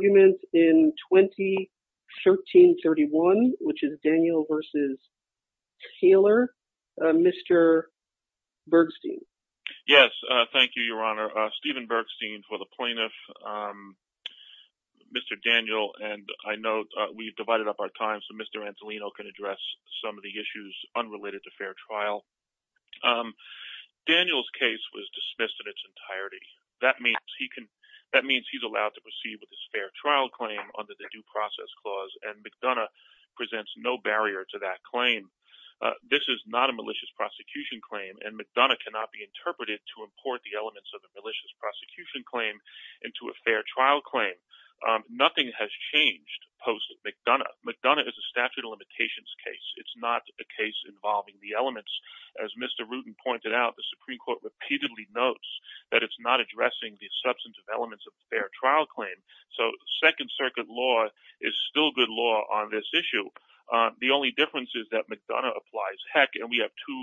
Argument in 2013-31, which is Daniel v. Taylor. Mr. Bergstein. Yes, thank you, Your Honor. Stephen Bergstein for the plaintiff, Mr. Daniel, and I know we've divided up our time so Mr. Antolino can address some of the issues unrelated to fair trial. Daniel's case was dismissed in its entirety. That means he's allowed to proceed with his fair trial claim under the Due Process Clause and McDonough presents no barrier to that claim. This is not a malicious prosecution claim and McDonough cannot be interpreted to import the elements of a malicious prosecution claim into a fair trial claim. Nothing has changed post-McDonough. McDonough is a statute of limitations case. It's not a case involving the elements. As Mr. Rudin pointed out, the Supreme Court repeatedly notes that it's not addressing the substantive elements of a fair trial claim, so Second Circuit law is still good law on this issue. The only difference is that McDonough applies heck and we have two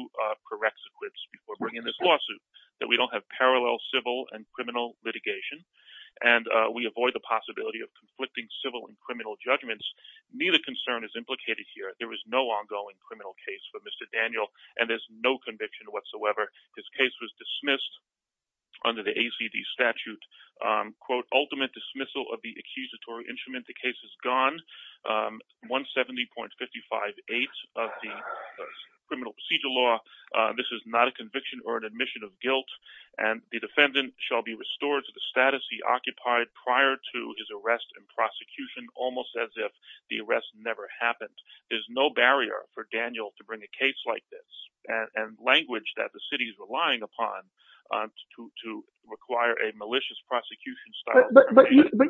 corrects equips before bringing this lawsuit. We don't have parallel civil and criminal litigation and we avoid the possibility of conflicting civil and criminal judgments. Neither concern is implicated here. There is no ongoing criminal case for Mr. Daniel and there's no conviction whatsoever. His case was dismissed under the ACD statute. Quote, ultimate dismissal of the accusatory instrument. The case is gone. 170.558 of the criminal procedure law. This is not a conviction or an admission of guilt and the defendant shall be restored to the status he occupied prior to his arrest and prosecution, almost as if the arrest never happened. There's no barrier for Daniel to bring a case like this and language that the city is relying upon to require a malicious prosecution. But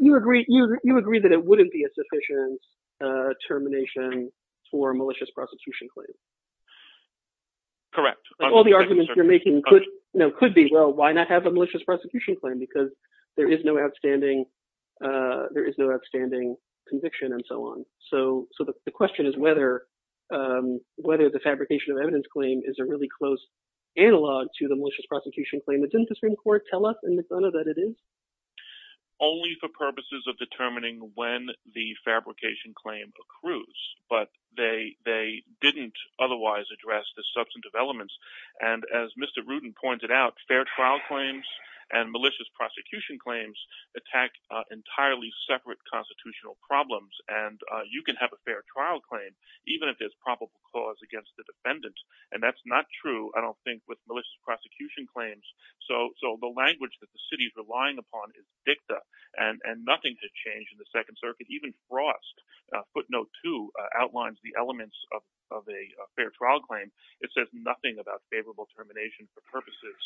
you agree that it wouldn't be a sufficient termination for a malicious prosecution claim. Correct. All the arguments you're making could be, well, why not have a malicious prosecution claim because there is no outstanding conviction and so on. So the question is whether the fabrication of evidence claim is a really close analog to the malicious prosecution claim. Didn't the Supreme Court tell us in McDonough that it is? Only for purposes of determining when the fabrication claim accrues, but they didn't otherwise address the substantive elements. And as Mr. Rudin pointed out, fair trial claims and malicious prosecution claims attack entirely separate constitutional problems. And you can have a fair trial claim even if there's probable cause against the defendant. And that's not true, I don't think, with malicious prosecution claims. So so the language that the city is relying upon is dicta and nothing to change in the Second Circuit. Even Frost, footnote two, outlines the elements of a fair trial claim. It says nothing about favorable termination for purposes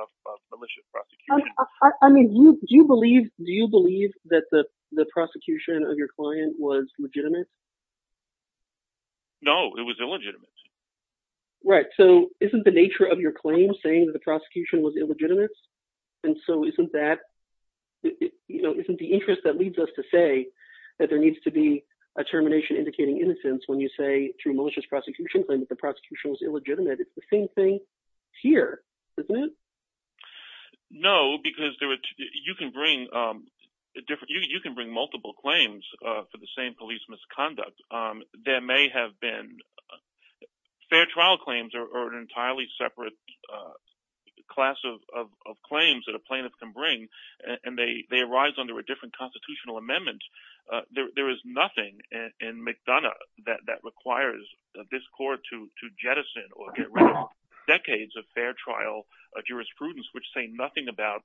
of malicious prosecution. I mean, do you believe that the prosecution of your client was legitimate? No, it was illegitimate. Right. So isn't the nature of your claim saying that the prosecution was illegitimate? And so isn't that, you know, isn't the interest that leads us to say that there needs to be a termination indicating innocence when you say through malicious prosecution claim that the prosecution was illegitimate? It's the same thing here, isn't it? No, because you can bring multiple claims for the same police misconduct. There may have been fair trial claims or an entirely separate class of claims that a plaintiff can bring, and they arise under a different constitutional amendment. There is nothing in McDonough that requires this court to jettison or get rid of decades of fair trial jurisprudence, which say nothing about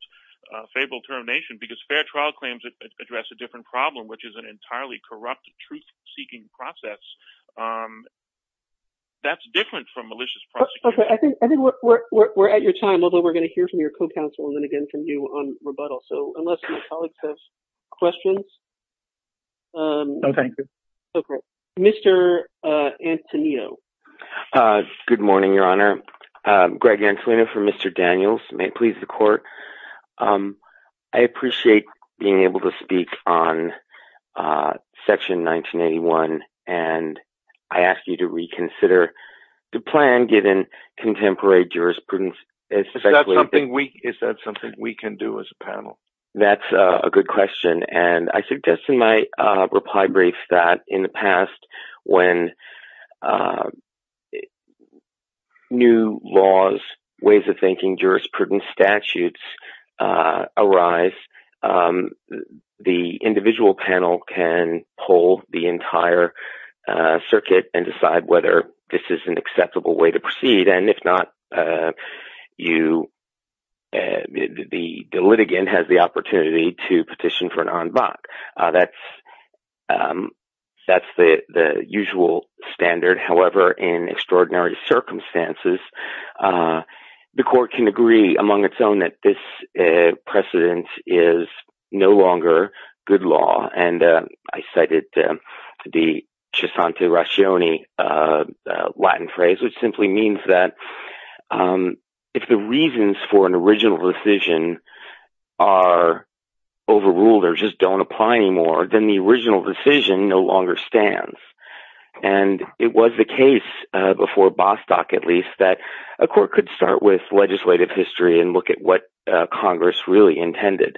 favorable termination because fair trial claims address a different problem, which is an entirely corrupt truth seeking process. That's different from malicious prosecution. I think we're at your time, although we're going to hear from your co-counsel and then again from you on rebuttal. So unless your colleagues have questions. Okay. Okay. Mr. Antonino. Good morning, Your Honor. Greg Antonino for Mr. Daniels. May it please the court. I appreciate being able to speak on Section 1981, and I ask you to reconsider the plan given contemporary jurisprudence. Is that something we can do as a panel? That's a good question, and I suggest in my reply brief that in the past when new laws, ways of thinking, jurisprudence, statutes arise, the individual panel can pull the entire circuit and decide whether this is an acceptable way to proceed. And if not, the litigant has the opportunity to petition for an en banc. That's the usual standard. However, in extraordinary circumstances, the court can agree among its own that this precedent is no longer good law. And I cited the chisante ratione Latin phrase, which simply means that if the reasons for an original decision are overruled or just don't apply anymore, then the original decision no longer stands. And it was the case before Bostock, at least, that a court could start with legislative history and look at what Congress really intended.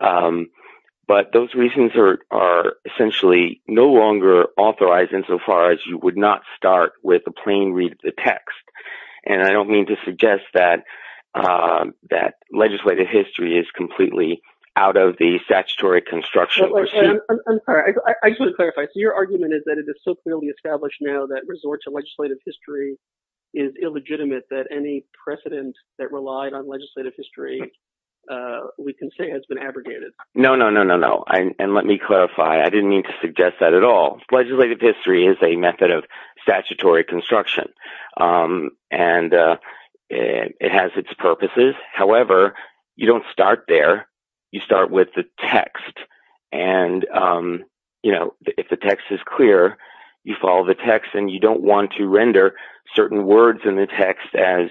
But those reasons are essentially no longer authorized insofar as you would not start with a plain read of the text. And I don't mean to suggest that legislative history is completely out of the statutory construction. I just want to clarify. So your argument is that it is so clearly established now that resort to legislative history is illegitimate, that any precedent that relied on legislative history, we can say, has been abrogated. No, no, no, no, no. And let me clarify. I didn't mean to suggest that at all. Legislative history is a method of statutory construction, and it has its purposes. However, you don't start there. You start with the text. And, you know, if the text is clear, you follow the text and you don't want to render certain words in the text as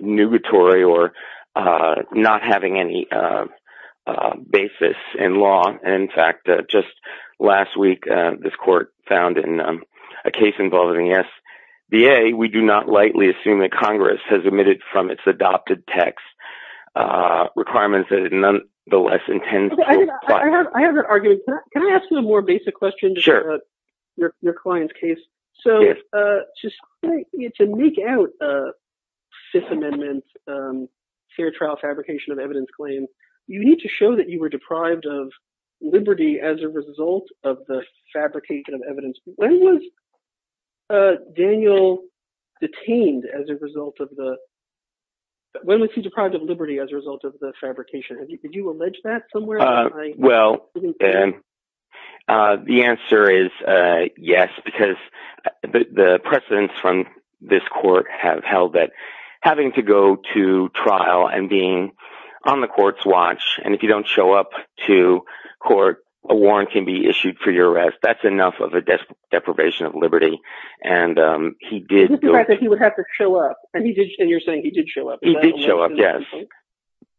nugatory or not having any basis in law. And in fact, just last week, this court found in a case involving SBA, we do not lightly assume that Congress has omitted from its adopted text requirements that it nonetheless intends to apply. I have an argument. Can I ask you a more basic question? Sure. Your client's case. So to make out a Fifth Amendment fair trial fabrication of evidence claims, you need to show that you were deprived of liberty as a result of the fabrication of evidence. When was Daniel detained as a result of the – when was he deprived of liberty as a result of the fabrication? Could you allege that somewhere? Well, the answer is yes, because the precedents from this court have held that having to go to trial and being on the court's watch, and if you don't show up to court, a warrant can be issued for your arrest. That's enough of a deprivation of liberty. And he did – Just the fact that he would have to show up. And you're saying he did show up. He did show up, yes.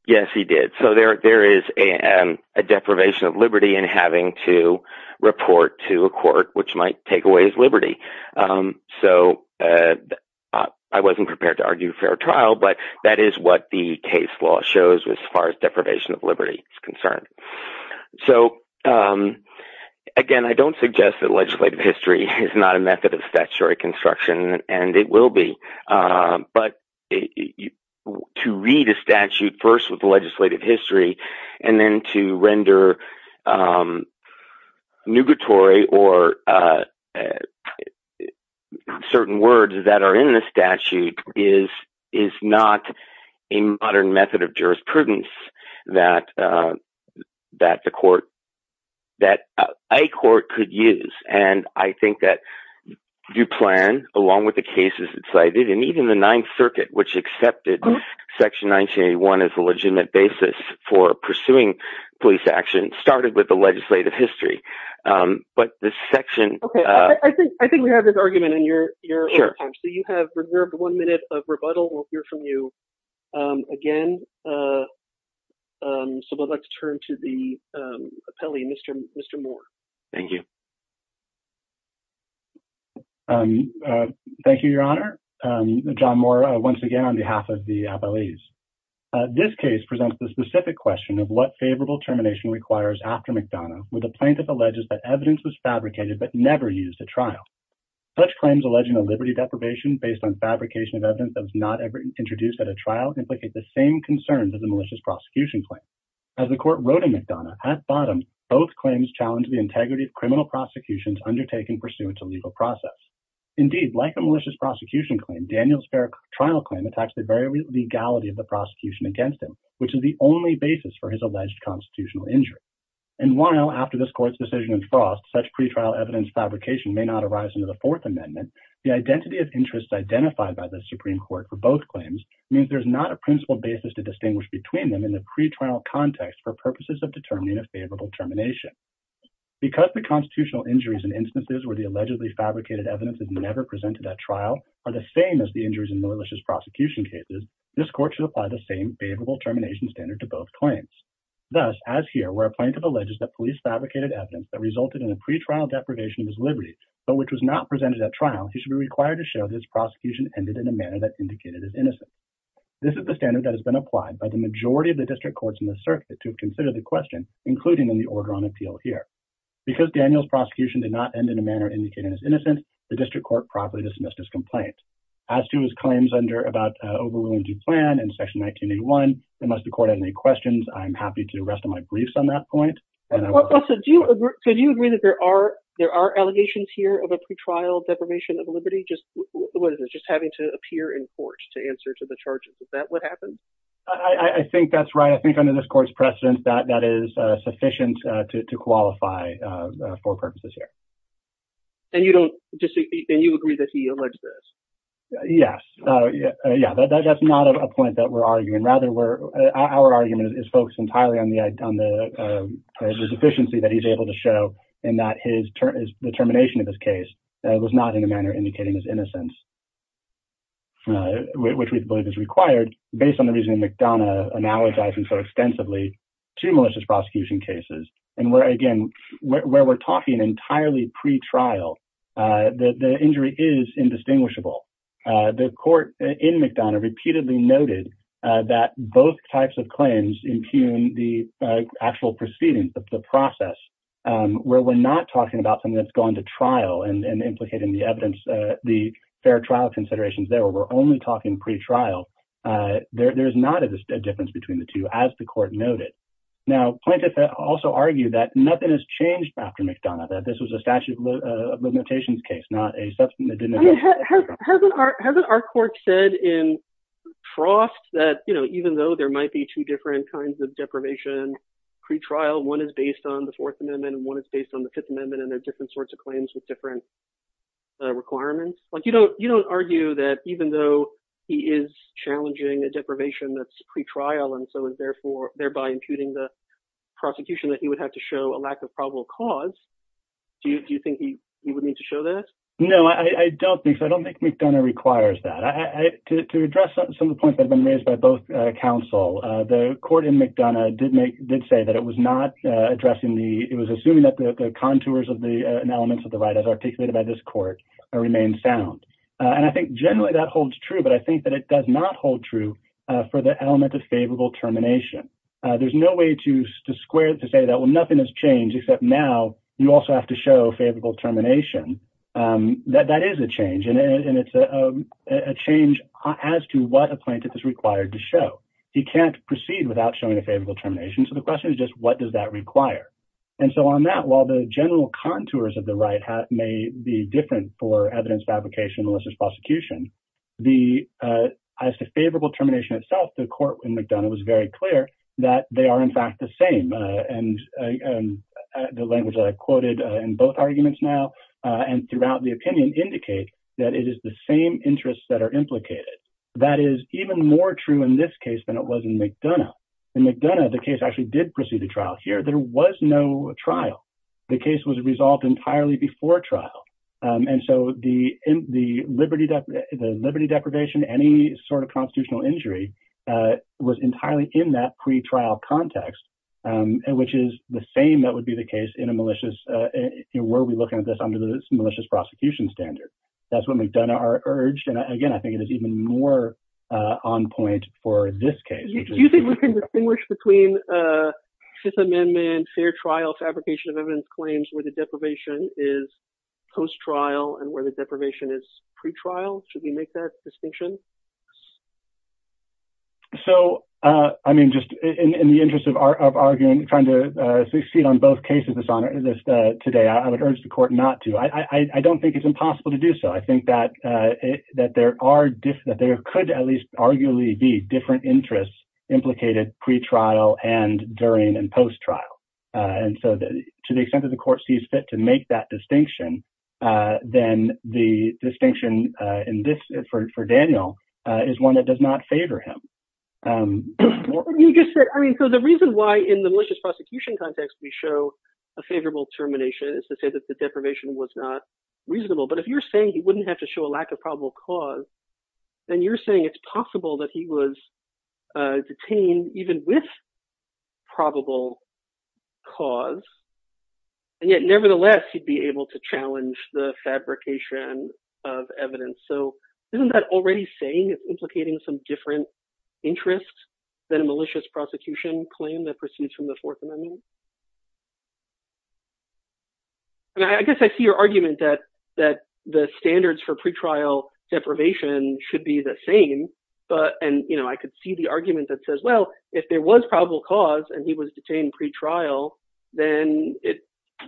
Yes, he did. So there is a deprivation of liberty in having to report to a court, which might take away his liberty. So I wasn't prepared to argue fair trial, but that is what the case law shows as far as deprivation of liberty is concerned. So again, I don't suggest that legislative history is not a method of statutory construction, and it will be. But to read a statute first with legislative history and then to render nugatory or certain words that are in the statute is not a modern method of jurisprudence that the court – that a court could use. And I think that you plan, along with the cases cited, and even the Ninth Circuit, which accepted Section 1981 as a legitimate basis for pursuing police action, started with the legislative history. But this section – Okay. I think we have this argument in your time. Sure. So you have reserved one minute of rebuttal. We'll hear from you again. So I'd like to turn to the appellee, Mr. Moore. Thank you. Thank you, Your Honor. John Moore, once again, on behalf of the appellees. This case presents the specific question of what favorable termination requires after McDonough, where the plaintiff alleges that evidence was fabricated but never used at trial. Such claims alleging a liberty deprivation based on fabrication of evidence that was not ever introduced at a trial implicate the same concerns of the malicious prosecution claim. As the court wrote in McDonough, at bottom, both claims challenge the integrity of criminal prosecutions undertaken pursuant to legal process. Indeed, like the malicious prosecution claim, Daniel's fair trial claim attacks the very legality of the prosecution against him, which is the only basis for his alleged constitutional injury. And while, after this court's decision is frost, such pretrial evidence fabrication may not arise under the Fourth Amendment, the identity of interests identified by the Supreme Court for both claims means there's not a principal basis to distinguish between them in the pretrial context for purposes of determining a favorable termination. Because the constitutional injuries in instances where the allegedly fabricated evidence is never presented at trial are the same as the injuries in malicious prosecution cases, this court should apply the same favorable termination standard to both claims. Thus, as here, where a plaintiff alleges that police fabricated evidence that resulted in a pretrial deprivation of his liberty, but which was not presented at trial, he should be required to show that his prosecution ended in a manner that indicated his innocence. This is the standard that has been applied by the majority of the district courts in the circuit to consider the question, including in the order on appeal here. Because Daniel's prosecution did not end in a manner indicating his innocence, the district court properly dismissed his complaint. As to his claims about overruling due plan in section 1981, unless the court had any questions, I'm happy to rest on my briefs on that point. So do you agree that there are allegations here of a pretrial deprivation of liberty? What is this, just having to appear in court to answer to the charges? Is that what happened? I think that's right. I think under this court's precedent, that is sufficient to qualify for purposes here. And you agree that he alleged this? Yes. Yeah, that's not a point that we're arguing. Our argument is focused entirely on the deficiency that he's able to show and that his determination of his case was not in a manner indicating his innocence. Which we believe is required based on the reason McDonough analogizing so extensively to malicious prosecution cases. And again, where we're talking entirely pretrial, the injury is indistinguishable. The court in McDonough repeatedly noted that both types of claims impugn the actual proceedings of the process, where we're not talking about something that's gone to trial and implicating the evidence, the fair trial considerations. There were only talking pretrial. There is not a difference between the two, as the court noted. Now, plaintiffs also argue that nothing has changed after McDonough, that this was a statute of limitations case, not a substantive. Hasn't our court said in Trost that even though there might be two different kinds of deprivation pretrial, one is based on the Fourth Amendment and one is based on the Fifth Amendment and there are different sorts of claims with different requirements. You don't argue that even though he is challenging a deprivation that's pretrial and so is therefore thereby impugning the prosecution, that he would have to show a lack of probable cause. Do you think he would need to show that? No, I don't think so. I don't think McDonough requires that to address some of the points that have been raised by both counsel. The court in McDonough did make did say that it was not addressing the it was assuming that the contours of the elements of the right as articulated by this court remain sound. And I think generally that holds true. But I think that it does not hold true for the element of favorable termination. There's no way to square to say that. Well, nothing has changed except now you also have to show favorable termination. That that is a change and it's a change as to what a plaintiff is required to show. He can't proceed without showing a favorable termination. So the question is just what does that require? And so on that, while the general contours of the right may be different for evidence fabrication, the favorable termination itself, the court in McDonough was very clear that they are, in fact, the same. And the language I quoted in both arguments now and throughout the opinion indicate that it is the same interests that are implicated. That is even more true in this case than it was in McDonough and McDonough. The case actually did proceed to trial here. There was no trial. The case was resolved entirely before trial. And so the the liberty, the liberty deprivation, any sort of constitutional injury was entirely in that pretrial context, which is the same that would be the case in a malicious where we look at this under the malicious prosecution standard. That's what McDonough urged. And again, I think it is even more on point for this case. Do you think we can distinguish between Fifth Amendment fair trial fabrication of evidence claims where the deprivation is post trial and where the deprivation is pretrial? Should we make that distinction? So, I mean, just in the interest of arguing, trying to succeed on both cases, this honor today, I would urge the court not to. I don't think it's impossible to do so. I think that that there are that there could at least arguably be different interests implicated pretrial and during and post trial. And so to the extent that the court sees fit to make that distinction, then the distinction in this for Daniel is one that does not favor him. You just said, I mean, so the reason why in the malicious prosecution context we show a favorable termination is to say that the deprivation was not reasonable. But if you're saying he wouldn't have to show a lack of probable cause, then you're saying it's possible that he was detained even with probable cause. And yet, nevertheless, he'd be able to challenge the fabrication of evidence. So isn't that already saying it's implicating some different interests than a malicious prosecution claim that proceeds from the Fourth Amendment? And I guess I see your argument that the standards for pretrial deprivation should be the same. And I could see the argument that says, well, if there was probable cause and he was detained pretrial, then it's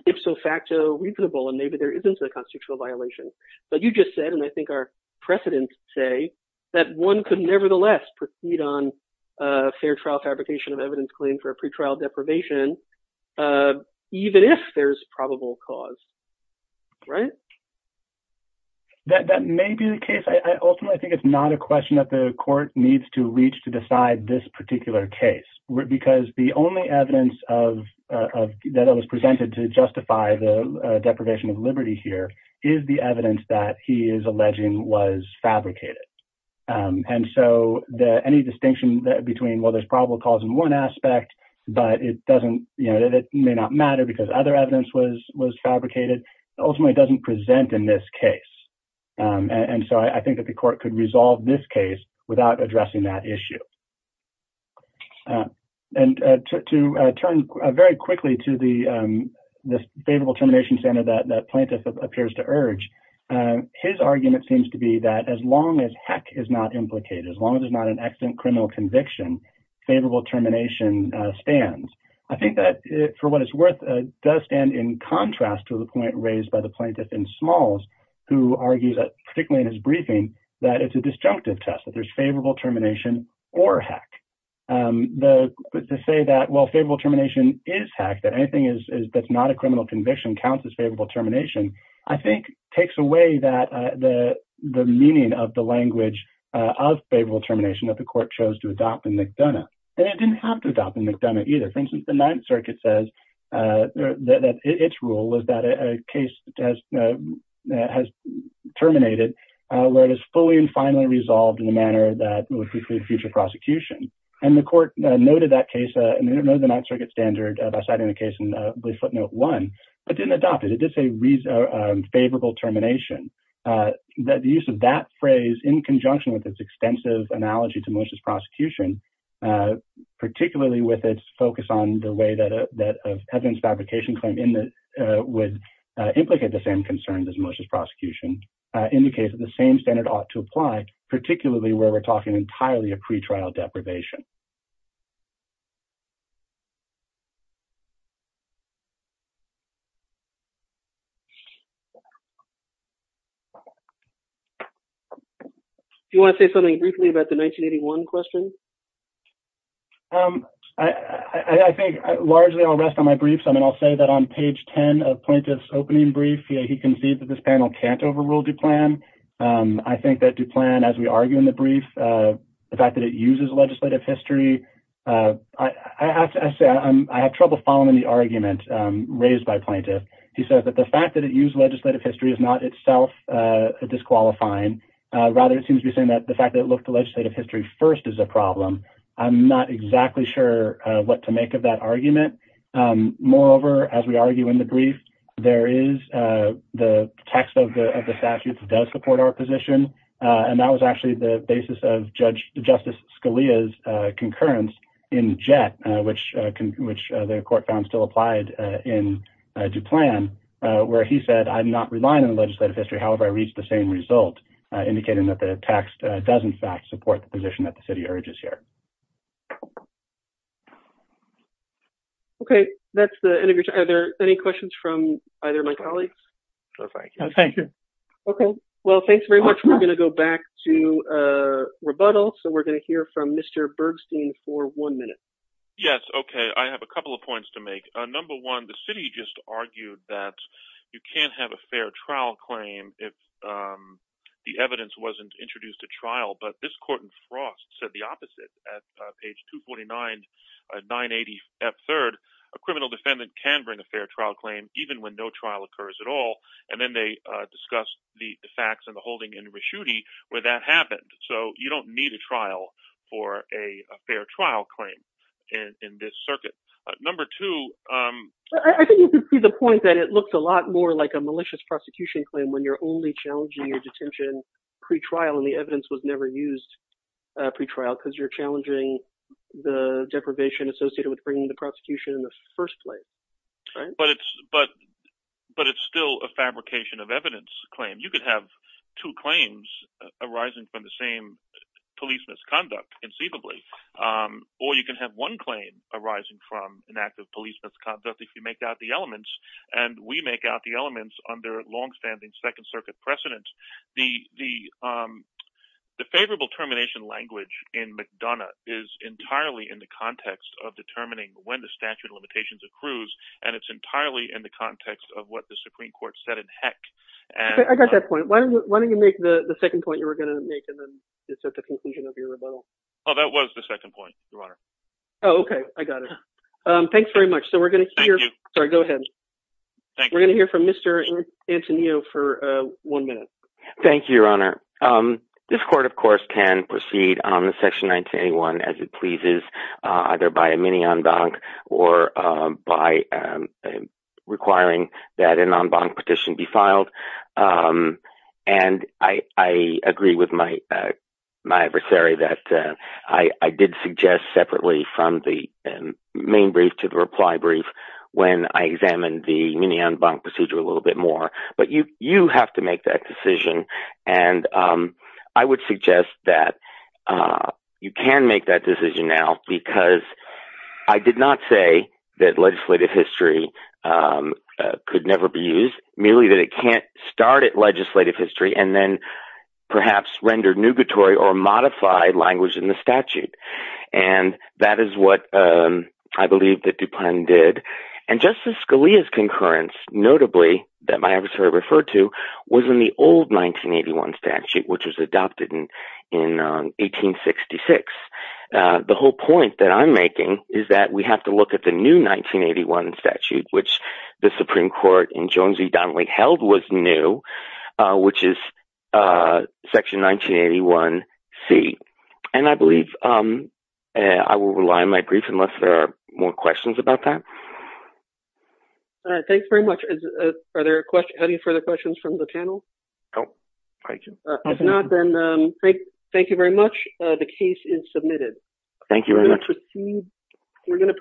ifso facto reasonable. And maybe there isn't a constitutional violation. But you just said, and I think our precedents say, that one could nevertheless proceed on fair trial fabrication of evidence claim for a pretrial deprivation. Even if there's probable cause. Right. That may be the case. I ultimately think it's not a question that the court needs to reach to decide this particular case, because the only evidence of that was presented to justify the deprivation of liberty here is the evidence that he is alleging was fabricated. And so any distinction between, well, there's probable cause in one aspect, but it may not matter because other evidence was fabricated ultimately doesn't present in this case. And so I think that the court could resolve this case without addressing that issue. And to turn very quickly to the favorable termination standard that plaintiff appears to urge his argument seems to be that as long as heck is not implicated, as long as there's not an accident, criminal conviction, favorable termination stands. I think that, for what it's worth, does stand in contrast to the point raised by the plaintiff in smalls, who argues that, particularly in his briefing, that it's a disjunctive test that there's favorable termination or heck. To say that, well, favorable termination is heck, that anything that's not a criminal conviction counts as favorable termination, I think, takes away the meaning of the language of favorable termination that the court chose to adopt in McDonough. And it didn't have to adopt in McDonough either. For instance, the Ninth Circuit says that its rule is that a case has terminated where it is fully and finally resolved in a manner that would preclude future prosecution. And the court noted that case and noted the Ninth Circuit standard by citing the case in footnote one, but didn't adopt it. It did say favorable termination. The use of that phrase, in conjunction with its extensive analogy to malicious prosecution, particularly with its focus on the way that evidence fabrication claim would implicate the same concerns as malicious prosecution, indicates that the same standard ought to apply, particularly where we're talking entirely a pretrial deprivation. Do you want to say something briefly about the 1981 question? I think largely I'll rest on my briefs. I mean, I'll say that on page 10 of Plaintiff's opening brief, he concedes that this panel can't overrule DuPlan. I think that DuPlan, as we argue in the brief, the fact that it uses legislative history, I have trouble following the argument raised by Plaintiff. He says that the fact that it used legislative history is not itself disqualifying. Rather, it seems to be saying that the fact that it looked to legislative history first is a problem. I'm not exactly sure what to make of that argument. Moreover, as we argue in the brief, there is the text of the statute that does support our position, and that was actually the basis of Justice Scalia's concurrence in Jett, which the court found still applied in DuPlan, where he said, I'm not relying on legislative history. However, I reach the same result, indicating that the text does, in fact, support the position that the city urges here. Okay, that's the end of your time. Are there any questions from either of my colleagues? No, thank you. Okay, well, thanks very much. We're going to go back to rebuttal, so we're going to hear from Mr. Bergstein for one minute. Yes, okay, I have a couple of points to make. Number one, the city just argued that you can't have a fair trial claim if the evidence wasn't introduced at trial, but this court in Frost said the opposite. At page 249, 980F3rd, a criminal defendant can bring a fair trial claim even when no trial occurs at all, and then they discussed the facts in the holding in Reschutte where that happened. So you don't need a trial for a fair trial claim in this circuit. Number two— I think that it looks a lot more like a malicious prosecution claim when you're only challenging your detention pre-trial and the evidence was never used pre-trial because you're challenging the deprivation associated with bringing the prosecution in the first place. But it's still a fabrication of evidence claim. You could have two claims arising from the same police misconduct conceivably, or you can have one claim arising from an act of police misconduct if you make out the elements, and we make out the elements under long-standing Second Circuit precedent. The favorable termination language in McDonough is entirely in the context of determining when the statute of limitations accrues, and it's entirely in the context of what the Supreme Court said in Heck. I got that point. Why don't you make the second point you were going to make and then just at the conclusion of your rebuttal? Oh, that was the second point, Your Honor. Oh, okay. I got it. Thanks very much. So we're going to hear— Thank you. Sorry, go ahead. Thank you. We're going to hear from Mr. Antonio for one minute. Thank you, Your Honor. This court, of course, can proceed on Section 1981 as it pleases, either by a mini-en banc or by requiring that an en banc petition be filed. And I agree with my adversary that I did suggest separately from the main brief to the reply brief when I examined the mini-en banc procedure a little bit more. But you have to make that decision, and I would suggest that you can make that decision now because I did not say that legislative history could never be used, merely that it can't start at legislative history and then perhaps render nugatory or modified language in the statute. And that is what I believe that DuPont did. And Justice Scalia's concurrence, notably, that my adversary referred to, was in the old 1981 statute, which was adopted in 1866. The whole point that I'm making is that we have to look at the new 1981 statute, which the Supreme Court in Jones v. Donnelly held was new, which is Section 1981c. And I believe I will rely on my brief unless there are more questions about that. All right. Thanks very much. Are there any further questions from the panel? No. All right. If not, then thank you very much. The case is submitted. Thank you very much.